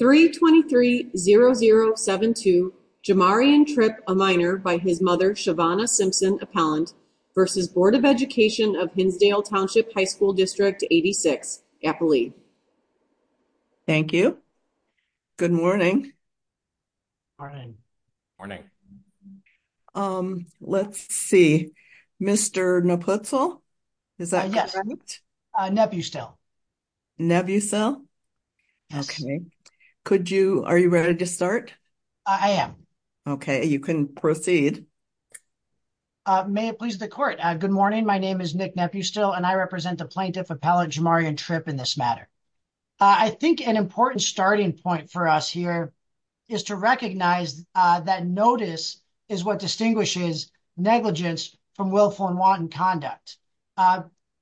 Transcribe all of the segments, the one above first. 323-0072 Jamarion Tripp, a minor, by his mother, Shavonna Simpson, appellant, v. Board of Education of Hinsdale Township High School District 86, Appalooke. Thank you. Good morning. Morning. Morning. Morning. Let's see. Mr. Naputzle? Is that correct? Yes. Nebusel. Nebusel? Yes. Okay. Could you, are you ready to start? I am. Okay. You can proceed. May it please the court. Good morning. My name is Nick Nebusel and I represent the plaintiff appellant Jamarion Tripp in this matter. I think an important starting point for us here is to recognize that notice is what distinguishes negligence from willful and wanton conduct.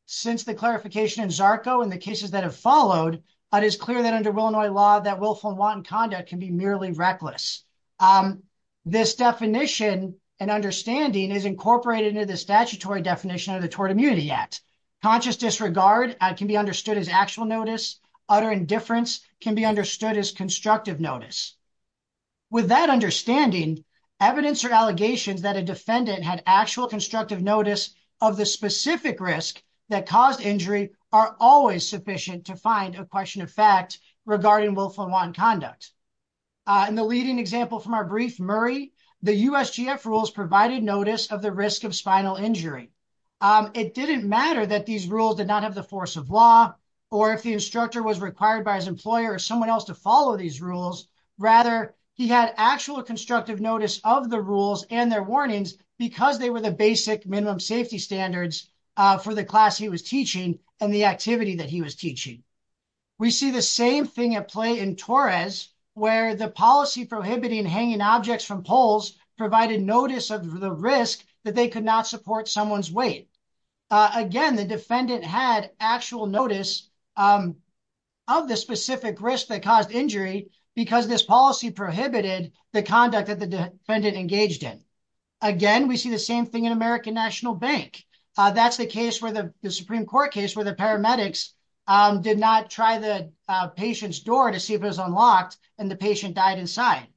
Since the clarification in ZARCO and the cases that have followed, it is clear that under Illinois law that willful and wanton conduct can be merely reckless. This definition and understanding is incorporated into the statutory definition of the Tort Immunity Act. Conscious disregard can be understood as actual notice. Utter indifference can be understood as constructive notice. With that understanding, evidence or allegations that a defendant had actual constructive notice of the specific risk that caused injury are always sufficient to find a question of fact regarding willful and wanton conduct. In the leading example from our brief, Murray, the USGF rules provided notice of the risk of spinal injury. It didn't matter that these rules did not have the force of law or if the instructor was required by his employer or someone else to follow these rules. Rather, he had actual constructive notice of the rules and their warnings because they were the basic minimum safety standards for the class he was teaching and the activity that he was teaching. We see the same thing at play in Torres, where the policy prohibiting hanging objects from poles provided notice of the risk that they could not support someone's weight. Again, the defendant had actual notice of the specific risk that caused injury because this policy prohibited the conduct that the defendant engaged in. Again, we see the same thing in American National Bank. That's the case where the Supreme Court case where the paramedics did not try the patient's door to see if it was unlocked and the patient died inside.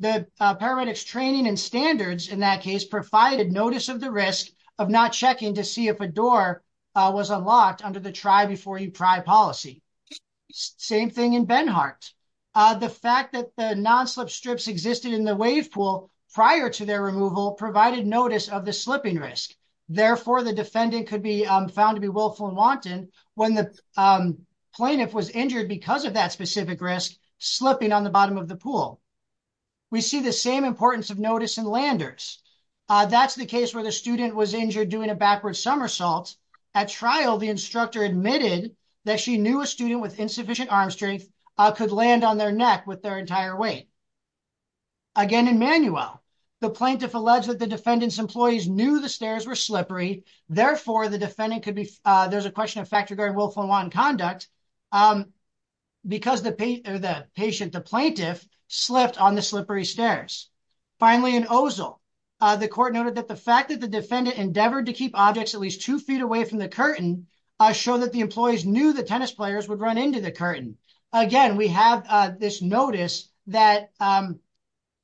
The paramedics training and standards in that case provided notice of the risk of not checking to see if a door was unlocked under the try before you pry policy. Same thing in Benhart. The fact that the non-slip strips existed in the wave pool prior to their removal provided notice of the slipping risk. Therefore, the defendant could be found to be willful and wanton when the plaintiff was injured because of that specific risk slipping on the bottom of the pool. We see the same importance of notice in Landers. That's the case where the student was injured doing a backward somersault. At trial, the instructor admitted that she knew a student with insufficient arm strength could land on their neck with their entire weight. Again, in Manuel, the plaintiff alleged that the defendant's employees knew the stairs were slippery. Therefore, the defendant could be. There's a question of fact regarding willful and wanton conduct because the patient, the plaintiff, slipped on the slippery stairs. Finally, in Ozil, the court noted that the fact that the defendant endeavored to keep objects at least two feet away from the curtain show that the employees knew the tennis players would run into the curtain. Again, we have this notice that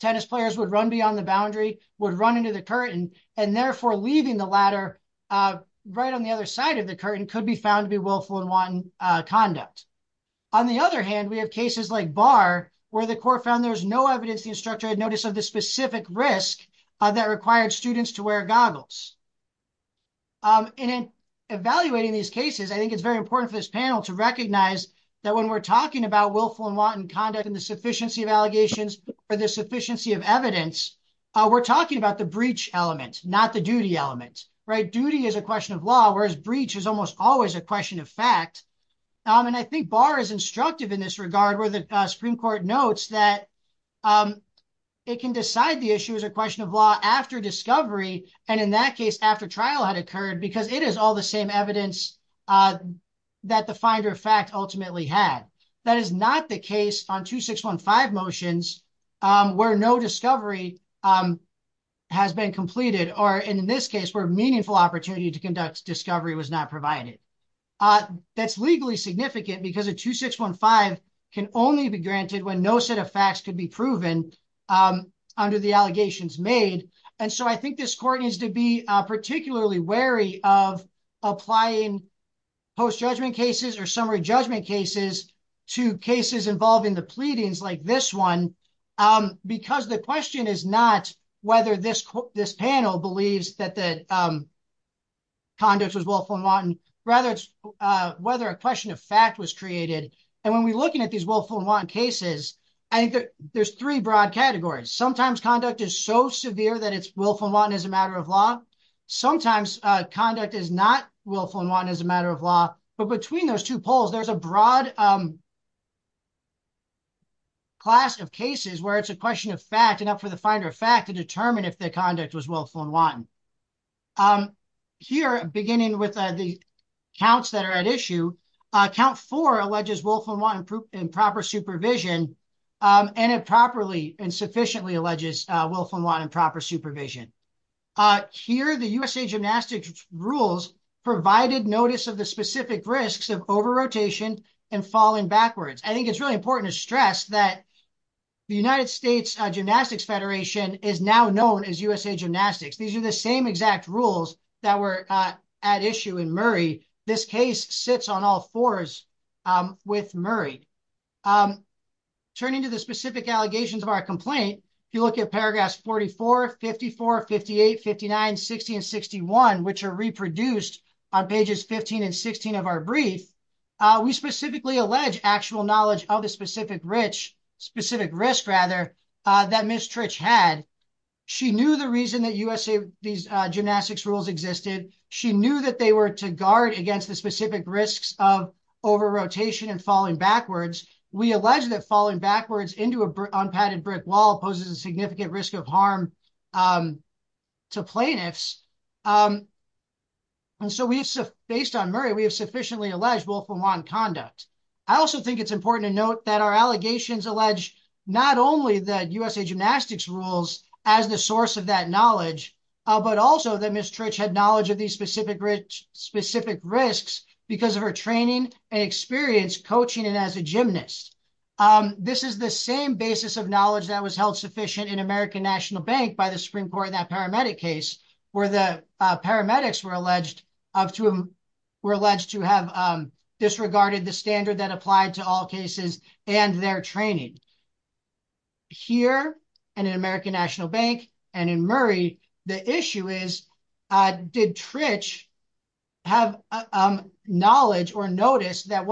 tennis players would run beyond the boundary, would run into the curtain, and therefore leaving the ladder right on the other side of the curtain could be found to be willful and wanton conduct. On the other hand, we have cases like Barr where the court found there was no evidence the instructor had notice of the specific risk that required students to wear goggles. In evaluating these cases, I think it's very important for this panel to recognize that when we're talking about willful and wanton conduct and the sufficiency of allegations or the sufficiency of evidence, we're talking about the breach element, not the duty element. Duty is a question of law, whereas breach is almost always a question of fact. I think Barr is instructive in this regard where the Supreme Court notes that it can decide the issue is a question of law after discovery, and in that case after trial had occurred because it is all the same evidence that the finder of fact ultimately had. That is not the case on 2615 motions where no discovery has been completed or in this case where meaningful opportunity to conduct discovery was not provided. That's legally significant because a 2615 can only be granted when no set of facts could be proven under the allegations made. I think this court needs to be particularly wary of applying post-judgment cases or summary judgment cases to cases involving the pleadings like this one because the question is not whether this panel believes that the conduct was willful and wanton, rather it's whether a question of fact was created. When we're looking at these willful and wanton cases, I think there's three broad categories. Sometimes conduct is so severe that it's willful and wanton as a matter of law. Sometimes conduct is not willful and wanton as a matter of law, but between those two poles, there's a broad class of cases where it's a question of fact and up for the finder of fact to determine if the conduct was willful and wanton. Here, beginning with the counts that are at issue, count four alleges willful and wanton improper supervision and improperly and sufficiently alleges willful and wanton improper supervision. Here, the USA Gymnastics Rules provided notice of the specific risks of over-rotation and falling backwards. I think it's really important to stress that the United States Gymnastics Federation is now known as USA Gymnastics. These are the same exact rules that were at issue in Murray. This case sits on all fours with Murray. Turning to the specific allegations of our complaint, if you look at paragraphs 44, 54, 58, 59, 60, and 61, which are reproduced on pages 15 and 16 of our brief, we specifically allege actual knowledge of the specific risk that Ms. Trich had. She knew the reason that USA Gymnastics Rules existed. She knew that they were to guard against the specific risks of over-rotation and falling backwards. We allege that falling backwards into an unpadded brick wall poses a significant risk of harm to plaintiffs. Based on Murray, we have sufficiently alleged willful and wanton conduct. I also think it's important to note that our allegations allege not only that USA Gymnastics Rules as the source of that knowledge, but also that Ms. Trich had knowledge of these specific risks because of her training and experience coaching and as a gymnast. This is the same basis of knowledge that was held sufficient in American National Bank by the Supreme Court in that paramedic case, where the paramedics were alleged to have disregarded the standard that applied to all cases and their training. Here and in American National Bank and in Murray, the issue is, did Trich have knowledge or notice that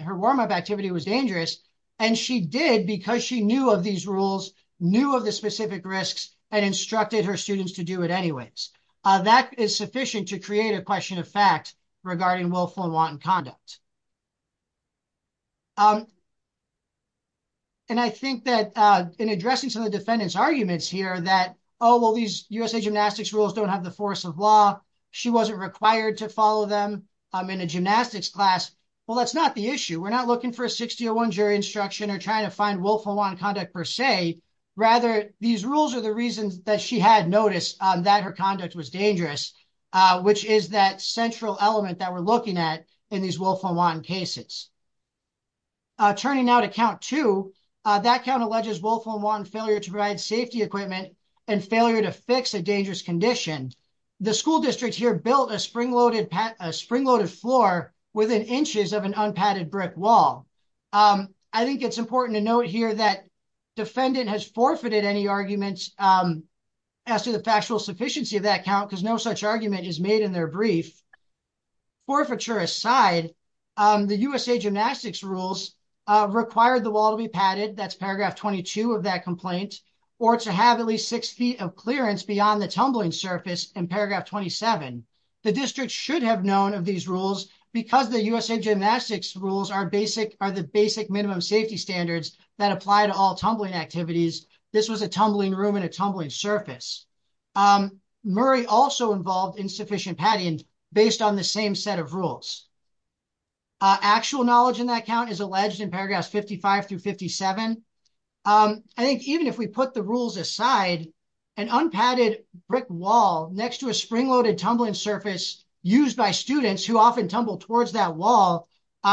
her warm-up activity was dangerous? And she did because she knew of these rules, knew of the specific risks, and instructed her students to do it anyways. That is sufficient to create a question of fact regarding willful and wanton conduct. And I think that in addressing some of the defendants' arguments here that, oh, well, these USA Gymnastics Rules don't have the force of law. She wasn't required to follow them in a gymnastics class. Well, that's not the issue. We're not looking for a 6-0-1 jury instruction or trying to find willful and wanton conduct per se. Rather, these rules are the reasons that she had noticed that her conduct was dangerous, which is that central element that we're looking at in these willful and wanton cases. Turning now to Count 2, that count alleges willful and wanton failure to provide safety equipment and failure to fix a dangerous condition. The school district here built a spring-loaded floor within inches of an unpadded brick wall. I think it's important to note here that defendant has forfeited any arguments as to the factual sufficiency of that count because no such argument is made in their brief. Forfeiture aside, the USA Gymnastics Rules require the wall to be padded. That's paragraph 22 of that complaint. Or to have at least six feet of clearance beyond the tumbling surface in paragraph 27. The district should have known of these rules because the USA Gymnastics Rules are the basic minimum safety standards that apply to all tumbling activities. This was a tumbling room and a tumbling surface. Murray also involved insufficient padding based on the same set of rules. Actual knowledge in that count is alleged in paragraphs 55 through 57. I think even if we put the rules aside, an unpadded brick wall next to a spring-loaded tumbling surface used by students who often tumble towards that wall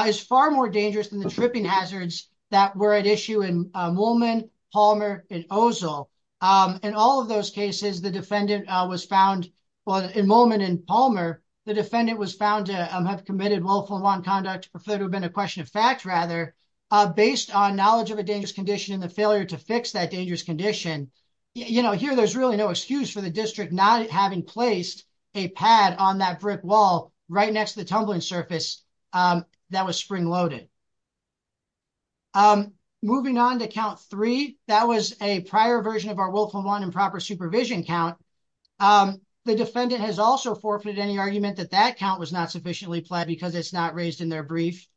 is far more dangerous than the tripping hazards that were at issue in Moolman, Palmer, and Ozel. In all of those cases, in Moolman and Palmer, the defendant was found to have committed willful and wrong conduct. It would have been a question of fact, rather, based on knowledge of a dangerous condition and the failure to fix that dangerous condition. Here, there's really no excuse for the district not having placed a pad on that brick wall right next to the tumbling surface that was spring-loaded. Moving on to count three, that was a prior version of our willful and wrong and proper supervision count. The defendant has also forfeited any argument that that count was not sufficiently pled because it's not raised in their brief.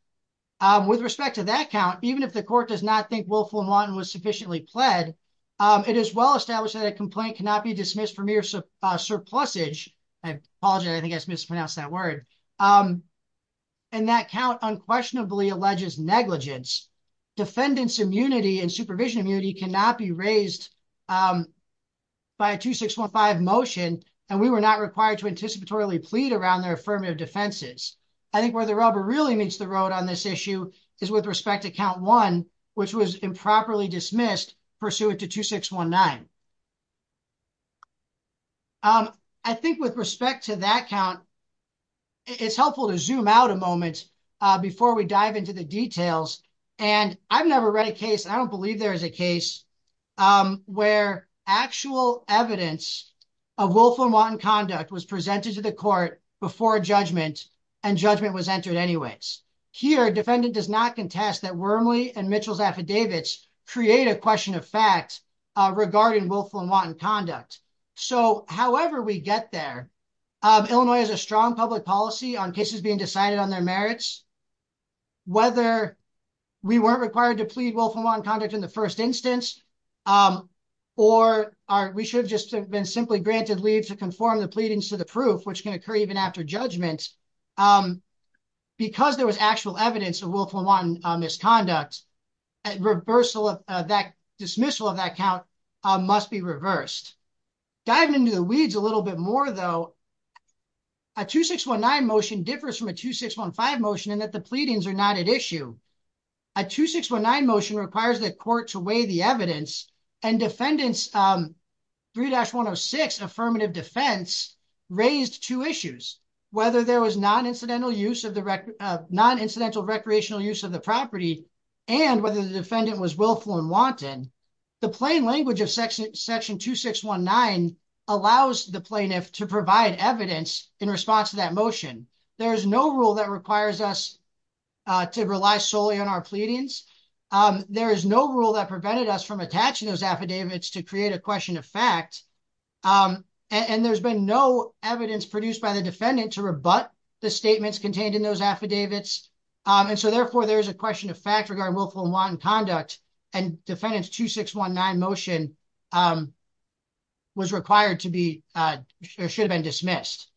With respect to that count, even if the court does not think willful and wrong was sufficiently pled, it is well established that a complaint cannot be dismissed for mere surplusage. I apologize, I think I mispronounced that word. And that count unquestionably alleges negligence. Defendants' immunity and supervision immunity cannot be raised by a 2615 motion, and we were not required to anticipatorily plead around their affirmative defenses. I think where the rubber really meets the road on this issue is with respect to count one, which was improperly dismissed pursuant to 2619. I think with respect to that count, it's helpful to zoom out a moment before we dive into the details. And I've never read a case, and I don't believe there is a case, where actual evidence of willful and wanton conduct was presented to the court before judgment and judgment was entered anyways. Here, defendant does not contest that Wormley and Mitchell's affidavits create a question of fact regarding willful and wanton conduct. So however we get there, Illinois has a strong public policy on cases being decided on their merits. Whether we weren't required to plead willful and wanton conduct in the first instance, or we should have just been simply granted leave to conform the pleadings to the proof, which can occur even after judgment. Because there was actual evidence of willful and wanton misconduct, dismissal of that count must be reversed. Diving into the weeds a little bit more though, a 2619 motion differs from a 2615 motion in that the pleadings are not at issue. A 2619 motion requires the court to weigh the evidence, and defendant's 3-106 affirmative defense raised two issues. Whether there was non-incidental recreational use of the property, and whether the defendant was willful and wanton, the plain language of section 2619 allows the plaintiff to provide evidence in response to that motion. There is no rule that requires us to rely solely on our pleadings. There is no rule that prevented us from attaching those affidavits to create a question of fact. And there's been no evidence produced by the defendant to rebut the statements contained in those affidavits. And so therefore there is a question of fact regarding willful and wanton conduct, and defendant's 2619 motion was required to be, or should have been dismissed.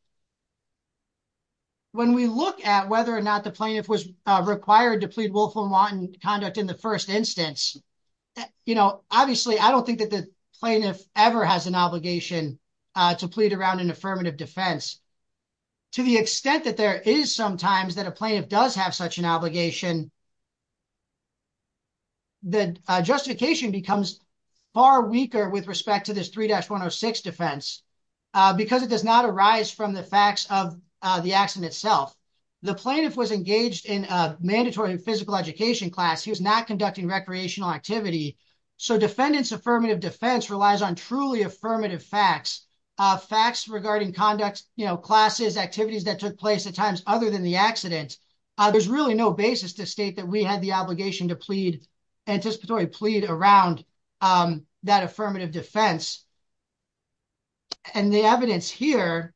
When we look at whether or not the plaintiff was required to plead willful and wanton conduct in the first instance, you know, obviously I don't think that the plaintiff ever has an obligation to plead around an affirmative defense. To the extent that there is sometimes that a plaintiff does have such an obligation, the justification becomes far weaker with respect to this 3-106 defense, because it does not arise from the facts of the accident itself. The plaintiff was engaged in a mandatory physical education class. He was not conducting recreational activity. So defendant's affirmative defense relies on truly affirmative facts, facts regarding conduct, you know, classes, activities that took place at times other than the accident. There's really no basis to state that we had the obligation to plead, anticipatory plead around that affirmative defense. And the evidence here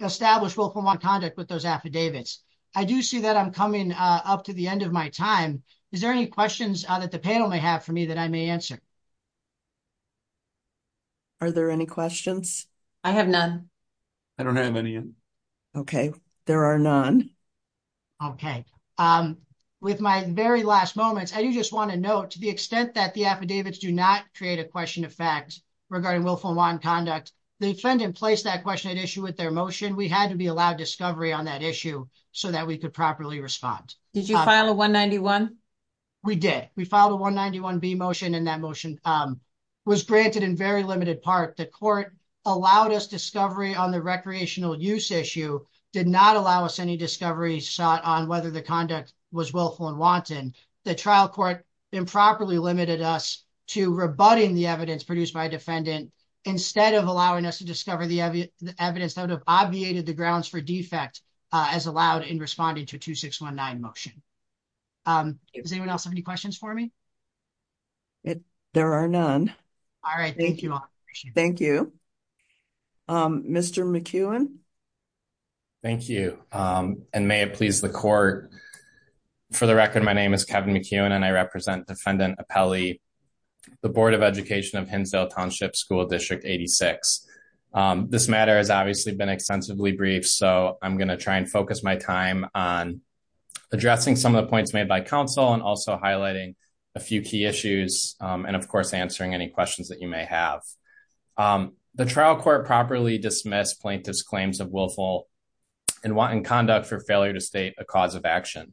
established willful and wanton conduct with those affidavits. I do see that I'm coming up to the end of my time. Is there any questions that the panel may have for me that I may answer? Are there any questions? I have none. I don't have any. Okay, there are none. Okay, with my very last moments, I do just want to note to the extent that the affidavits do not create a question of facts regarding willful and wanton conduct, the defendant placed that question at issue with their motion. We had to be allowed discovery on that issue so that we could properly respond. Did you file a 191? We did. We filed a 191B motion and that motion was granted in very limited part. The court allowed us discovery on the recreational use issue, did not allow us any discovery sought on whether the conduct was willful and wanton. The trial court improperly limited us to rebutting the evidence produced by defendant instead of allowing us to discover the evidence that would have obviated the grounds for defect as allowed in responding to 2619 motion. Does anyone else have any questions for me? There are none. All right. Thank you all. Thank you. Mr. McEwen. Thank you, and may it please the court. For the record, my name is Kevin McEwen and I represent defendant appellee, the Board of Education of Hinsdale Township School District 86. This matter has obviously been extensively brief, so I'm going to try and focus my time on addressing some of the points made by counsel and also highlighting a few key issues. And of course, answering any questions that you may have. The trial court properly dismissed plaintiff's claims of willful and wanton conduct for failure to state a cause of action.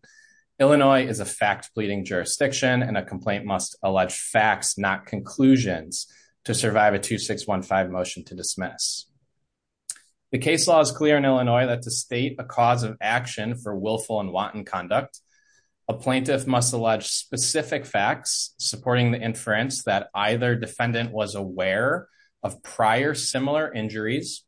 Illinois is a fact pleading jurisdiction and a complaint must allege facts, not conclusions to survive a 2615 motion to dismiss. The case law is clear in Illinois that to state a cause of action for willful and wanton conduct, a plaintiff must allege specific facts supporting the inference that either defendant was aware of prior similar injuries.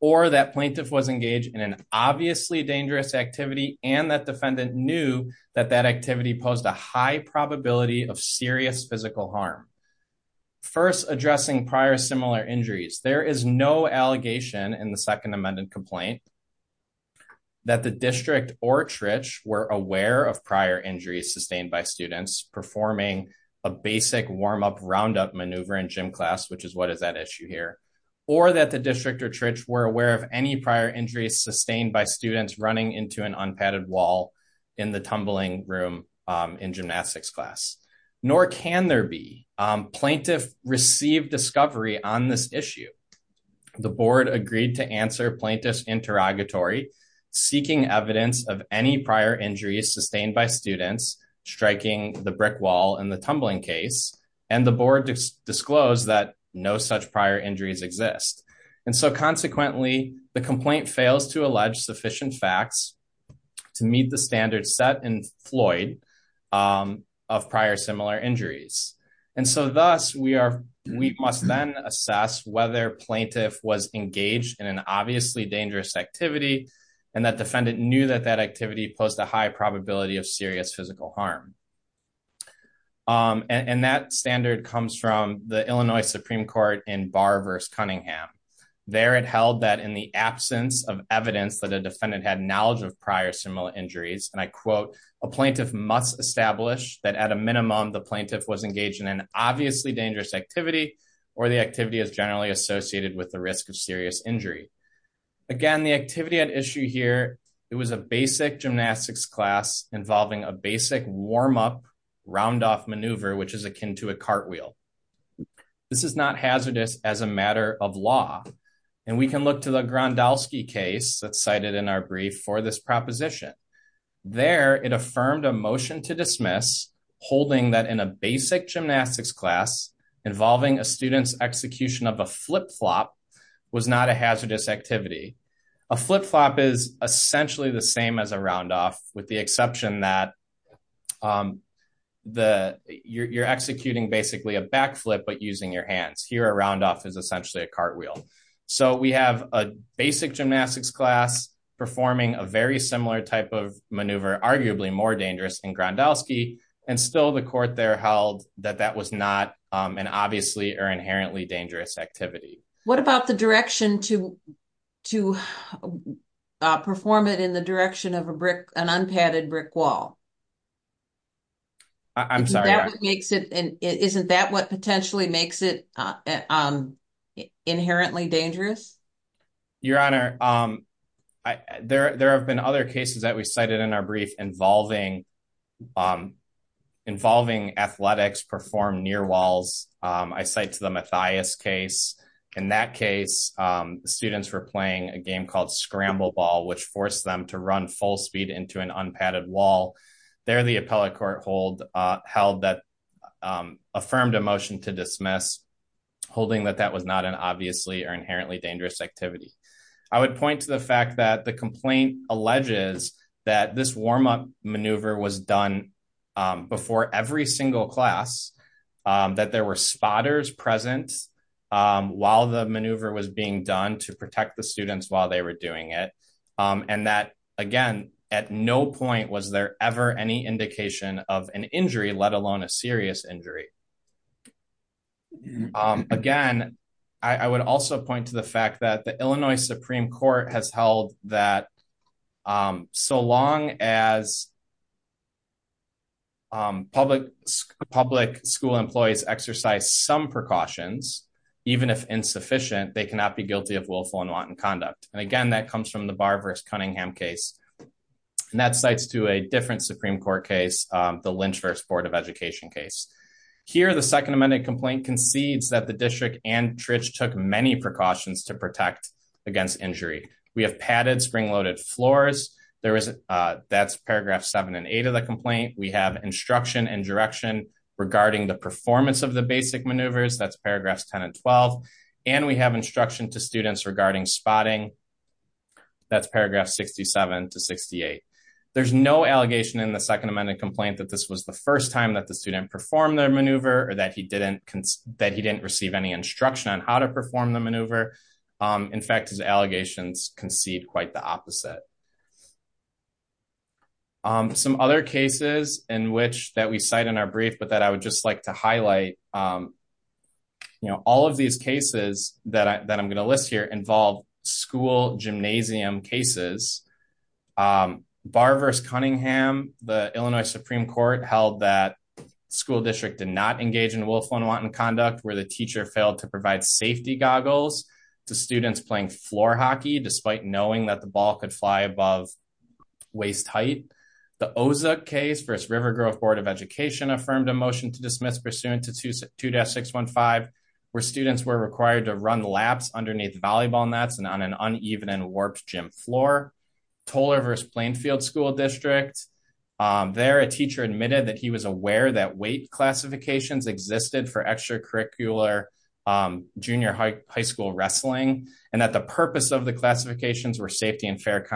Or that plaintiff was engaged in an obviously dangerous activity and that defendant knew that that activity posed a high probability of serious physical harm. First, addressing prior similar injuries, there is no allegation in the Second Amendment complaint that the district or church were aware of prior injuries sustained by students performing a basic warm up roundup maneuver in gym class, which is what is that issue here, or that the district or church were aware of any prior injuries sustained by students running into an unpadded wall in the tumbling room in gymnastics class. Nor can there be. Plaintiff received discovery on this issue. The board agreed to answer plaintiff's interrogatory, seeking evidence of any prior injuries sustained by students striking the brick wall in the tumbling case, and the board disclosed that no such prior injuries exist. And so consequently, the complaint fails to allege sufficient facts to meet the standard set in Floyd of prior similar injuries. And so thus, we are, we must then assess whether plaintiff was engaged in an obviously dangerous activity, and that defendant knew that that activity posed a high probability of serious physical harm. And that standard comes from the Illinois Supreme Court in Barr versus Cunningham. There it held that in the absence of evidence that a defendant had knowledge of prior similar injuries, and I quote, a plaintiff must establish that at a minimum the plaintiff was engaged in an obviously dangerous activity, or the activity is generally associated with the risk of serious injury. Again, the activity at issue here. It was a basic gymnastics class involving a basic warm up round off maneuver which is akin to a cartwheel. This is not hazardous as a matter of law, and we can look to the grandowski case that cited in our brief for this proposition. There it affirmed a motion to dismiss holding that in a basic gymnastics class involving a student's execution of a flip flop was not a hazardous activity, a flip flop is essentially the same as a round off with the exception that the you're executing basically a backflip but using your hands here around off is essentially a cartwheel. So we have a basic gymnastics class, performing a very similar type of maneuver arguably more dangerous and grandowski, and still the court there held that that was not an obviously are inherently dangerous activity. What about the direction to to perform it in the direction of a brick, an unpadded brick wall. I'm sorry, makes it isn't that what potentially makes it inherently dangerous. Your Honor. There have been other cases that we cited in our brief involving involving athletics perform near walls. I cite to the Mathias case. In that case, students were playing a game called scramble ball which forced them to run full speed into an unpadded wall. There the appellate court hold held that affirmed emotion to dismiss holding that that was not an obviously are inherently dangerous activity. I would point to the fact that the complaint alleges that this warm up maneuver was done before every single class that there were spotters presence. While the maneuver was being done to protect the students while they were doing it. And that, again, at no point was there ever any indication of an injury, let alone a serious injury. Again, I would also point to the fact that the Illinois Supreme Court has held that so long as public, public school employees exercise some precautions, even if insufficient, they cannot be guilty of willful and wanton conduct. And again that comes from the Barber's Cunningham case. And that cites to a different Supreme Court case, the Lynch first Board of Education case here the Second Amendment complaint concedes that the district and Trish took many precautions to protect against injury, we have padded spring loaded floors. That's paragraph seven and eight of the complaint we have instruction and direction regarding the performance of the basic maneuvers that's paragraphs 10 and 12, and we have instruction to students regarding spotting. That's paragraph 67 to 68. There's no allegation in the Second Amendment complaint that this was the first time that the student perform their maneuver or that he didn't, that he didn't receive any instruction on how to perform the maneuver. In fact, his allegations concede quite the opposite. Some other cases in which that we cite in our brief but that I would just like to highlight, you know, all of these cases that I'm going to list here involve school gymnasium cases. Barber's Cunningham, the Illinois Supreme Court held that school district did not engage in willful and wanton conduct where the teacher failed to provide safety goggles to students playing floor hockey despite knowing that the ball could fly above waist height. The Oza case versus River Grove Board of Education affirmed a motion to dismiss pursuant to 2-615 where students were required to run laps underneath volleyball nets and on an uneven and warped gym floor. Toler versus Plainfield School District. There, a teacher admitted that he was aware that weight classifications existed for extracurricular junior high school wrestling, and that the purpose of the classifications were safety and fair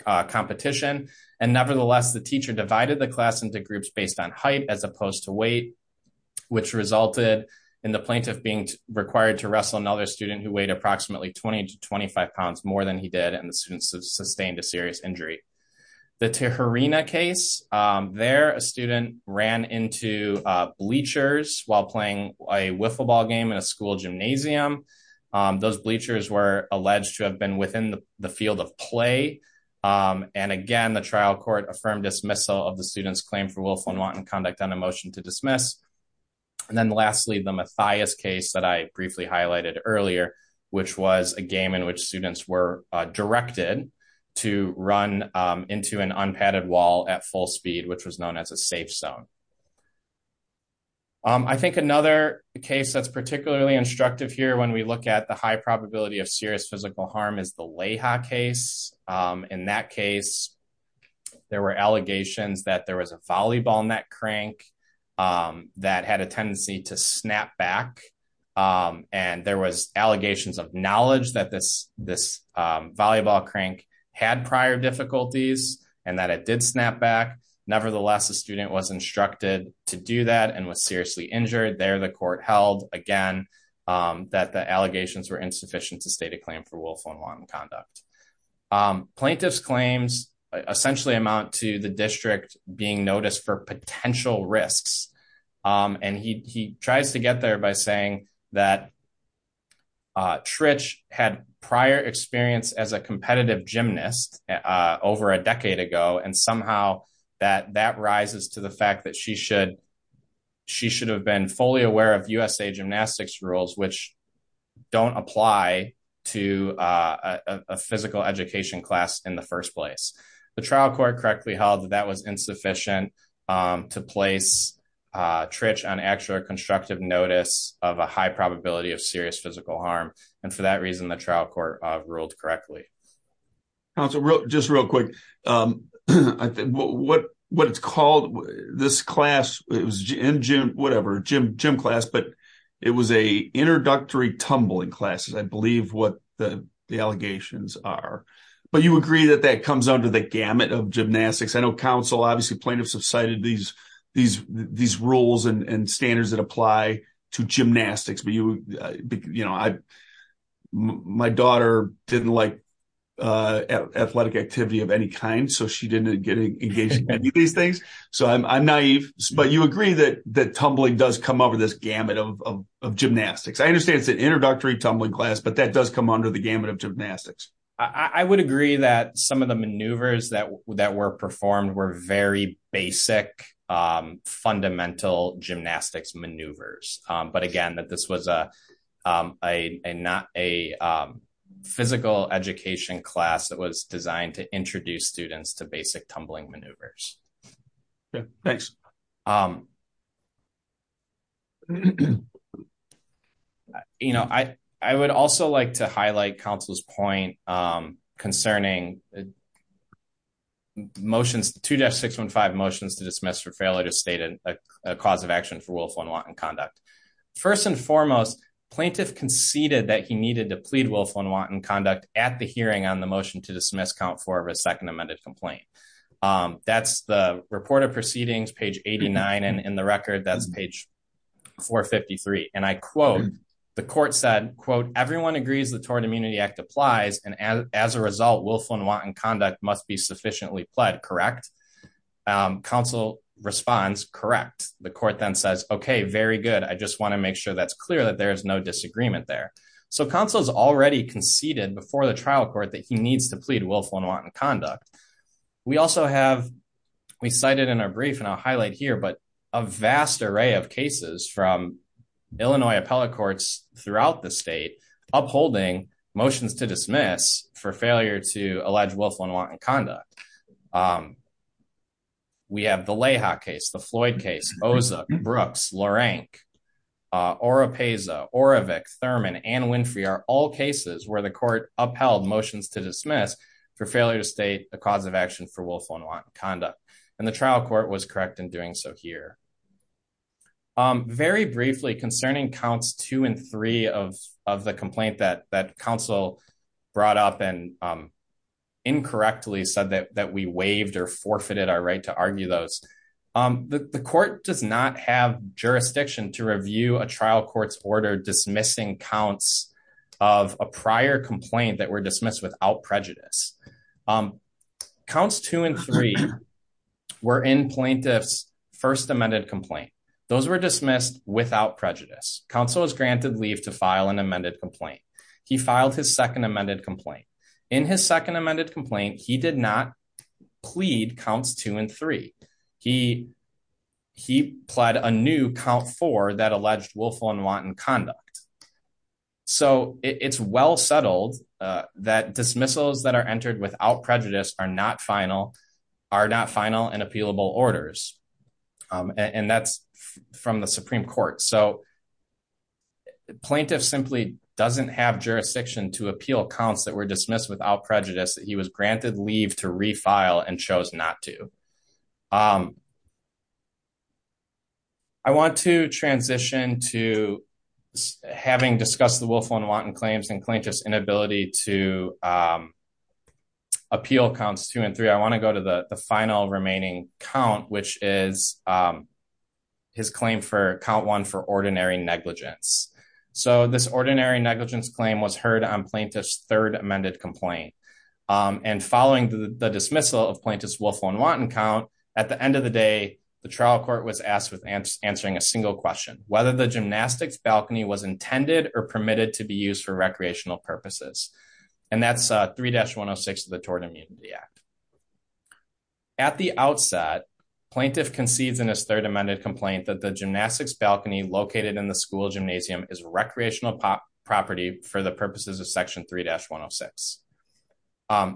competition. And nevertheless, the teacher divided the class into groups based on height as opposed to weight, which resulted in the plaintiff being required to wrestle another student who weighed approximately 20 to 25 pounds more than he did and the student sustained a serious injury. The Tijerina case. There, a student ran into bleachers while playing a wiffle ball game in a school gymnasium. Those bleachers were alleged to have been within the field of play. And again, the trial court affirmed dismissal of the student's claim for willful and wanton conduct on a motion to dismiss. And then lastly, the Mathias case that I briefly highlighted earlier, which was a game in which students were directed to run into an unpadded wall at full speed, which was known as a safe zone. I think another case that's particularly instructive here when we look at the high probability of serious physical harm is the Leija case. In that case, there were allegations that there was a volleyball net crank that had a tendency to snap back. And there was allegations of knowledge that this volleyball crank had prior difficulties and that it did snap back. Nevertheless, the student was instructed to do that and was seriously injured. There, the court held, again, that the allegations were insufficient to state a claim for willful and wanton conduct. Plaintiff's claims essentially amount to the district being noticed for potential risks. And he tries to get there by saying that Trich had prior experience as a competitive gymnast over a decade ago. And somehow that rises to the fact that she should have been fully aware of USA Gymnastics rules, which don't apply to a physical education class in the first place. The trial court correctly held that that was insufficient to place Trich on extra constructive notice of a high probability of serious physical harm. And for that reason, the trial court ruled correctly. Just real quick, what it's called, this class, whatever, gym class, but it was a introductory tumbling classes, I believe what the allegations are. But you agree that that comes under the gamut of gymnastics. I know counsel, obviously plaintiffs have cited these rules and standards that apply to gymnastics. But you know, I, my daughter didn't like athletic activity of any kind. So she didn't get engaged in any of these things. So I'm naive. But you agree that that tumbling does come over this gamut of gymnastics. I understand it's an introductory tumbling class, but that does come under the gamut of gymnastics. I would agree that some of the maneuvers that that were performed were very basic fundamental gymnastics maneuvers. But again, that this was a not a physical education class that was designed to introduce students to basic tumbling maneuvers. Thanks. Um, you know, I, I would also like to highlight counsel's point concerning motions to just 615 motions to dismiss for failure to state a cause of action for willful and wanton conduct. First and foremost, plaintiff conceded that he needed to plead willful and wanton conduct at the hearing on the motion to dismiss count for a second amended complaint. That's the report of proceedings page 89. And in the record, that's page 453. And I quote, the court said, quote, everyone agrees the Tort Immunity Act applies and as a result willful and wanton conduct must be sufficiently pled correct. Counsel responds, correct. The court then says, Okay, very good. I just want to make sure that's clear that there's no disagreement there. So counsel's already conceded before the trial court that he needs to plead willful and wanton conduct. We also have we cited in our brief and I'll highlight here but a vast array of cases from Illinois appellate courts throughout the state upholding motions to dismiss for failure to allege willful and wanton conduct. We have the Leha case, the Floyd case, Osa, Brooks, Lorank, Oropesa, Orovick, Thurman and Winfrey are all cases where the court upheld motions to dismiss for failure to state a cause of action for willful and wanton conduct, and the trial court was correct in doing so here. Very briefly concerning counts two and three of the complaint that that counsel brought up and incorrectly said that that we waived or forfeited our right to argue those. The court does not have jurisdiction to review a trial courts order dismissing counts of a prior complaint that were dismissed without prejudice. Counts two and three were in plaintiffs first amended complaint. Those were dismissed without prejudice, counsel is granted leave to file an amended complaint. He filed his second amended complaint in his second amended complaint he did not plead counts two and three. He, he pled a new count for that alleged willful and wanton conduct. So it's well settled that dismissals that are entered without prejudice are not final are not final and appealable orders. And that's from the Supreme Court so plaintiff simply doesn't have jurisdiction to appeal accounts that were dismissed without prejudice that he was granted leave to refile and chose not to. I want to transition to having discussed the willful and wanton claims and plaintiff's inability to appeal counts two and three I want to go to the final remaining count which is his claim for count one for ordinary negligence. So this ordinary negligence claim was heard on plaintiff's third amended complaint and following the dismissal of plaintiffs willful and wanton count. At the end of the day, the trial court was asked with answering a single question, whether the gymnastics balcony was intended or permitted to be used for recreational purposes. And that's three dash 106 of the Tort Immunity Act. At the outset, plaintiff concedes in his third amended complaint that the gymnastics balcony located in the school gymnasium is recreational property for the purposes of section three dash 106.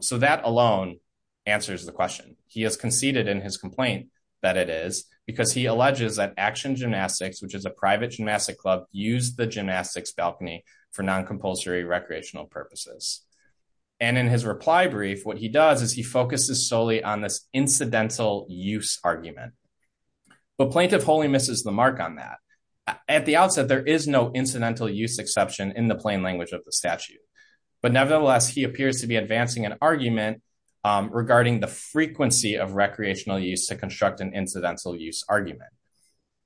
So that alone answers the question, he has conceded in his complaint that it is because he alleges that action gymnastics which is a private gymnastic club, use the gymnastics balcony for non compulsory recreational purposes. And in his reply brief what he does is he focuses solely on this incidental use argument, but plaintiff wholly misses the mark on that. At the outset, there is no incidental use exception in the plain language of the statute, but nevertheless he appears to be advancing an argument regarding the frequency of recreational use to construct an incidental use argument.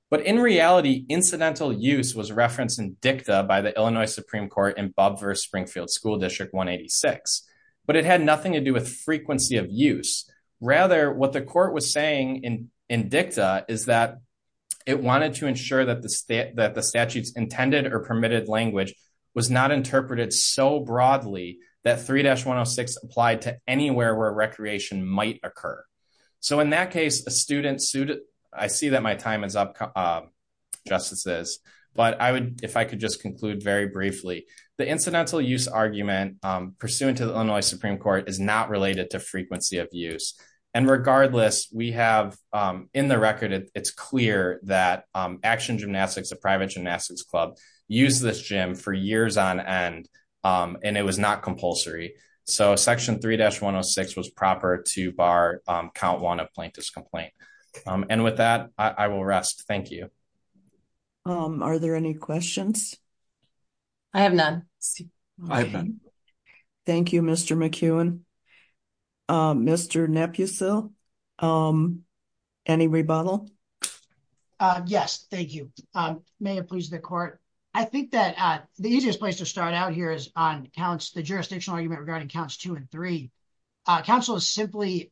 But in reality, incidental use was referenced in dicta by the Illinois Supreme Court in Bob versus Springfield School District 186, but it had nothing to do with frequency of use. Rather, what the court was saying in in dicta is that it wanted to ensure that the state that the statutes intended or permitted language was not interpreted so broadly that three dash 106 applied to anywhere where recreation might occur. So in that case, a student suit. I see that my time is up. Justices, but I would, if I could just conclude very briefly, the incidental use argument, pursuant to the Illinois Supreme Court is not related to frequency of use. And regardless, we have in the record, it's clear that action gymnastics a private gymnastics club use this gym for years on end, and it was not compulsory. So section three dash 106 was proper to bar count one of plaintiff's complaint. And with that, I will rest. Thank you. Are there any questions. I have none. Thank you, Mr McEwen. Mr nephews. So, um, any rebuttal. Yes, thank you. May it please the court. I think that the easiest place to start out here is on counts the jurisdictional argument regarding counts two and three council is simply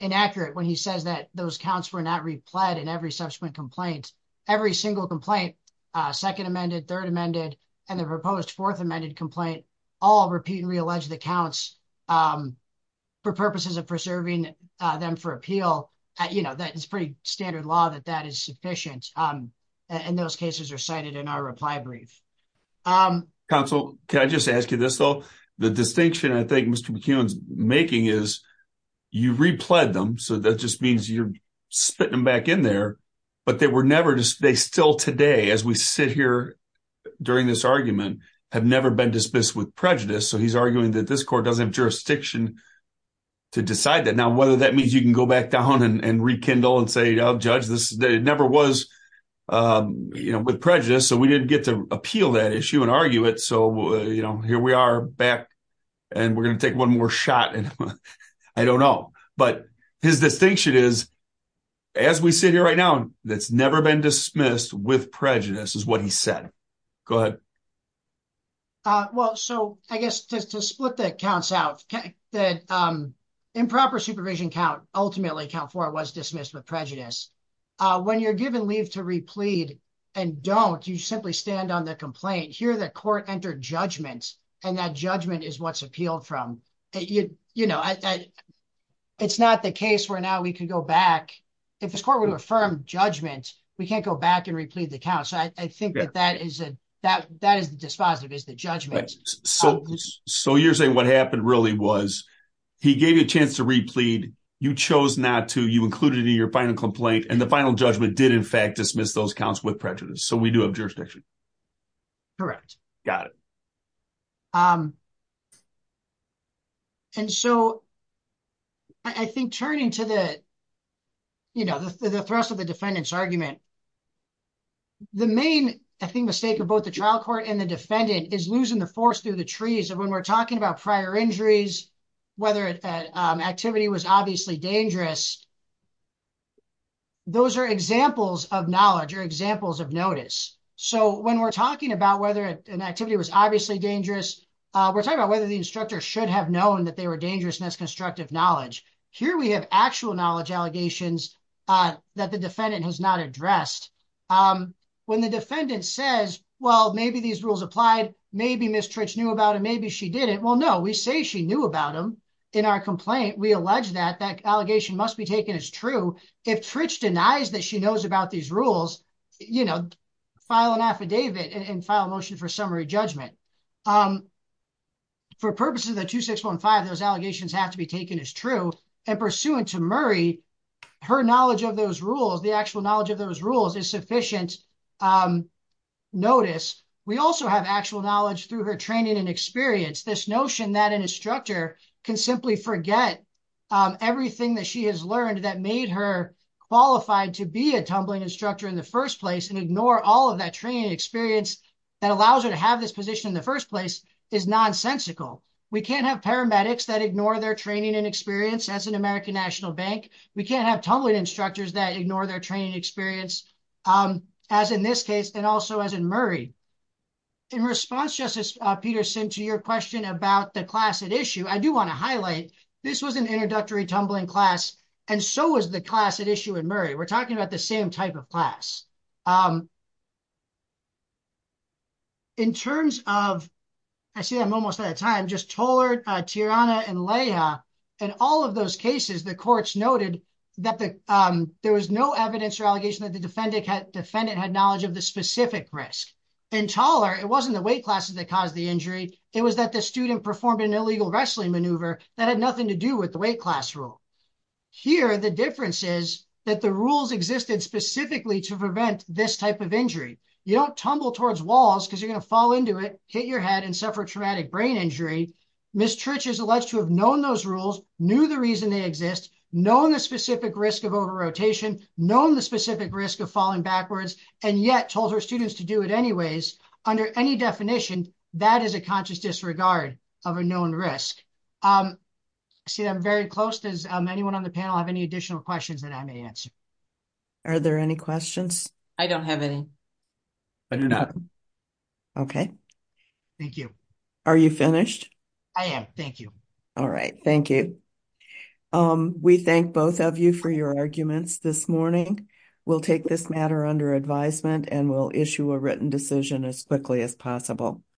inaccurate when he says that those counts were not replied and every subsequent complaint. Every single complaint, second amended third amended, and the proposed fourth amended complaint, all repeat and reallege the counts for purposes of preserving them for appeal. You know, that is pretty standard law that that is sufficient. And those cases are cited in our reply brief. Council, can I just ask you this, though, the distinction I think Mr McEwen's making is you replay them so that just means you're spitting them back in there, but they were never just they still today as we sit here. During this argument have never been dismissed with prejudice so he's arguing that this court doesn't have jurisdiction to decide that now whether that means you can go back down and rekindle and say, I'll judge this never was. You know, with prejudice so we didn't get to appeal that issue and argue it so you know here we are back and we're going to take one more shot and I don't know, but his distinction is, as we sit here right now, that's never been dismissed with prejudice is what he said. Good. Well, so I guess just to split the accounts out that improper supervision count, ultimately account for was dismissed with prejudice. When you're given leave to replete and don't you simply stand on the complaint here that court entered judgments and that judgment is what's appealed from it, you know, it's not the case where now we can go back. If this court would affirm judgment, we can't go back and replete the count so I think that that is that that is dispositive is the judgment. So, so you're saying what happened really was he gave you a chance to replete, you chose not to you included in your final complaint and the final judgment did in fact dismiss those counts with prejudice so we do have jurisdiction. Correct. Got it. And so I think turning to the, you know, the thrust of the defendants argument. The main, I think, mistake of both the trial court and the defendant is losing the force through the trees and when we're talking about prior injuries, whether it activity was obviously dangerous. Those are examples of knowledge or examples of notice. So when we're talking about whether an activity was obviously dangerous. We're talking about whether the instructor should have known that they were dangerous and that's constructive knowledge. Here we have actual knowledge allegations that the defendant has not addressed. When the defendant says, well, maybe these rules applied. Maybe Mr. It's new about it. Maybe she did it. Well, no, we say she knew about them in our complaint. We allege that that allegation must be taken as true. If Trish denies that she knows about these rules, you know, file an affidavit and file a motion for summary judgment. For purposes of the 2615 those allegations have to be taken as true and pursuant to Murray her knowledge of those rules the actual knowledge of those rules is sufficient. Notice. We also have actual knowledge through her training and experience this notion that an instructor can simply forget everything that she has learned that made her qualified to be a tumbling instructor in the first place and ignore all of that training experience. That allows her to have this position in the first place is nonsensical. We can't have paramedics that ignore their training and experience as an American National Bank. We can't have tumbling instructors that ignore their training experience. As in this case, and also as in Murray in response justice Peterson to your question about the class at issue. I do want to highlight. This was an introductory tumbling class. And so is the class at issue in Murray. We're talking about the same type of class. In terms of I see I'm almost at a time just taller Tiana and Leah and all of those cases the courts noted that the there was no evidence or allegation that the defendant had defendant had knowledge of the specific risk and taller. It wasn't the weight classes that caused the injury. It was that the student performed an illegal wrestling maneuver that had nothing to do with the weight class rule. Here the difference is that the rules existed specifically to prevent this type of injury, you don't tumble towards walls because you're going to fall into it, hit your head and suffer traumatic brain injury. Miss churches alleged to have known those rules knew the reason they exist, known the specific risk of over rotation, known the specific risk of falling backwards, and yet told her students to do it anyways. Under any definition that is a conscious disregard of a known risk. See, I'm very close to anyone on the panel have any additional questions that I may answer. Are there any questions. I don't have any. Okay, thank you. Are you finished. I am. Thank you. All right. Thank you. We thank both of you for your arguments this morning. We'll take this matter under advisement and we'll issue a written decision as quickly as possible.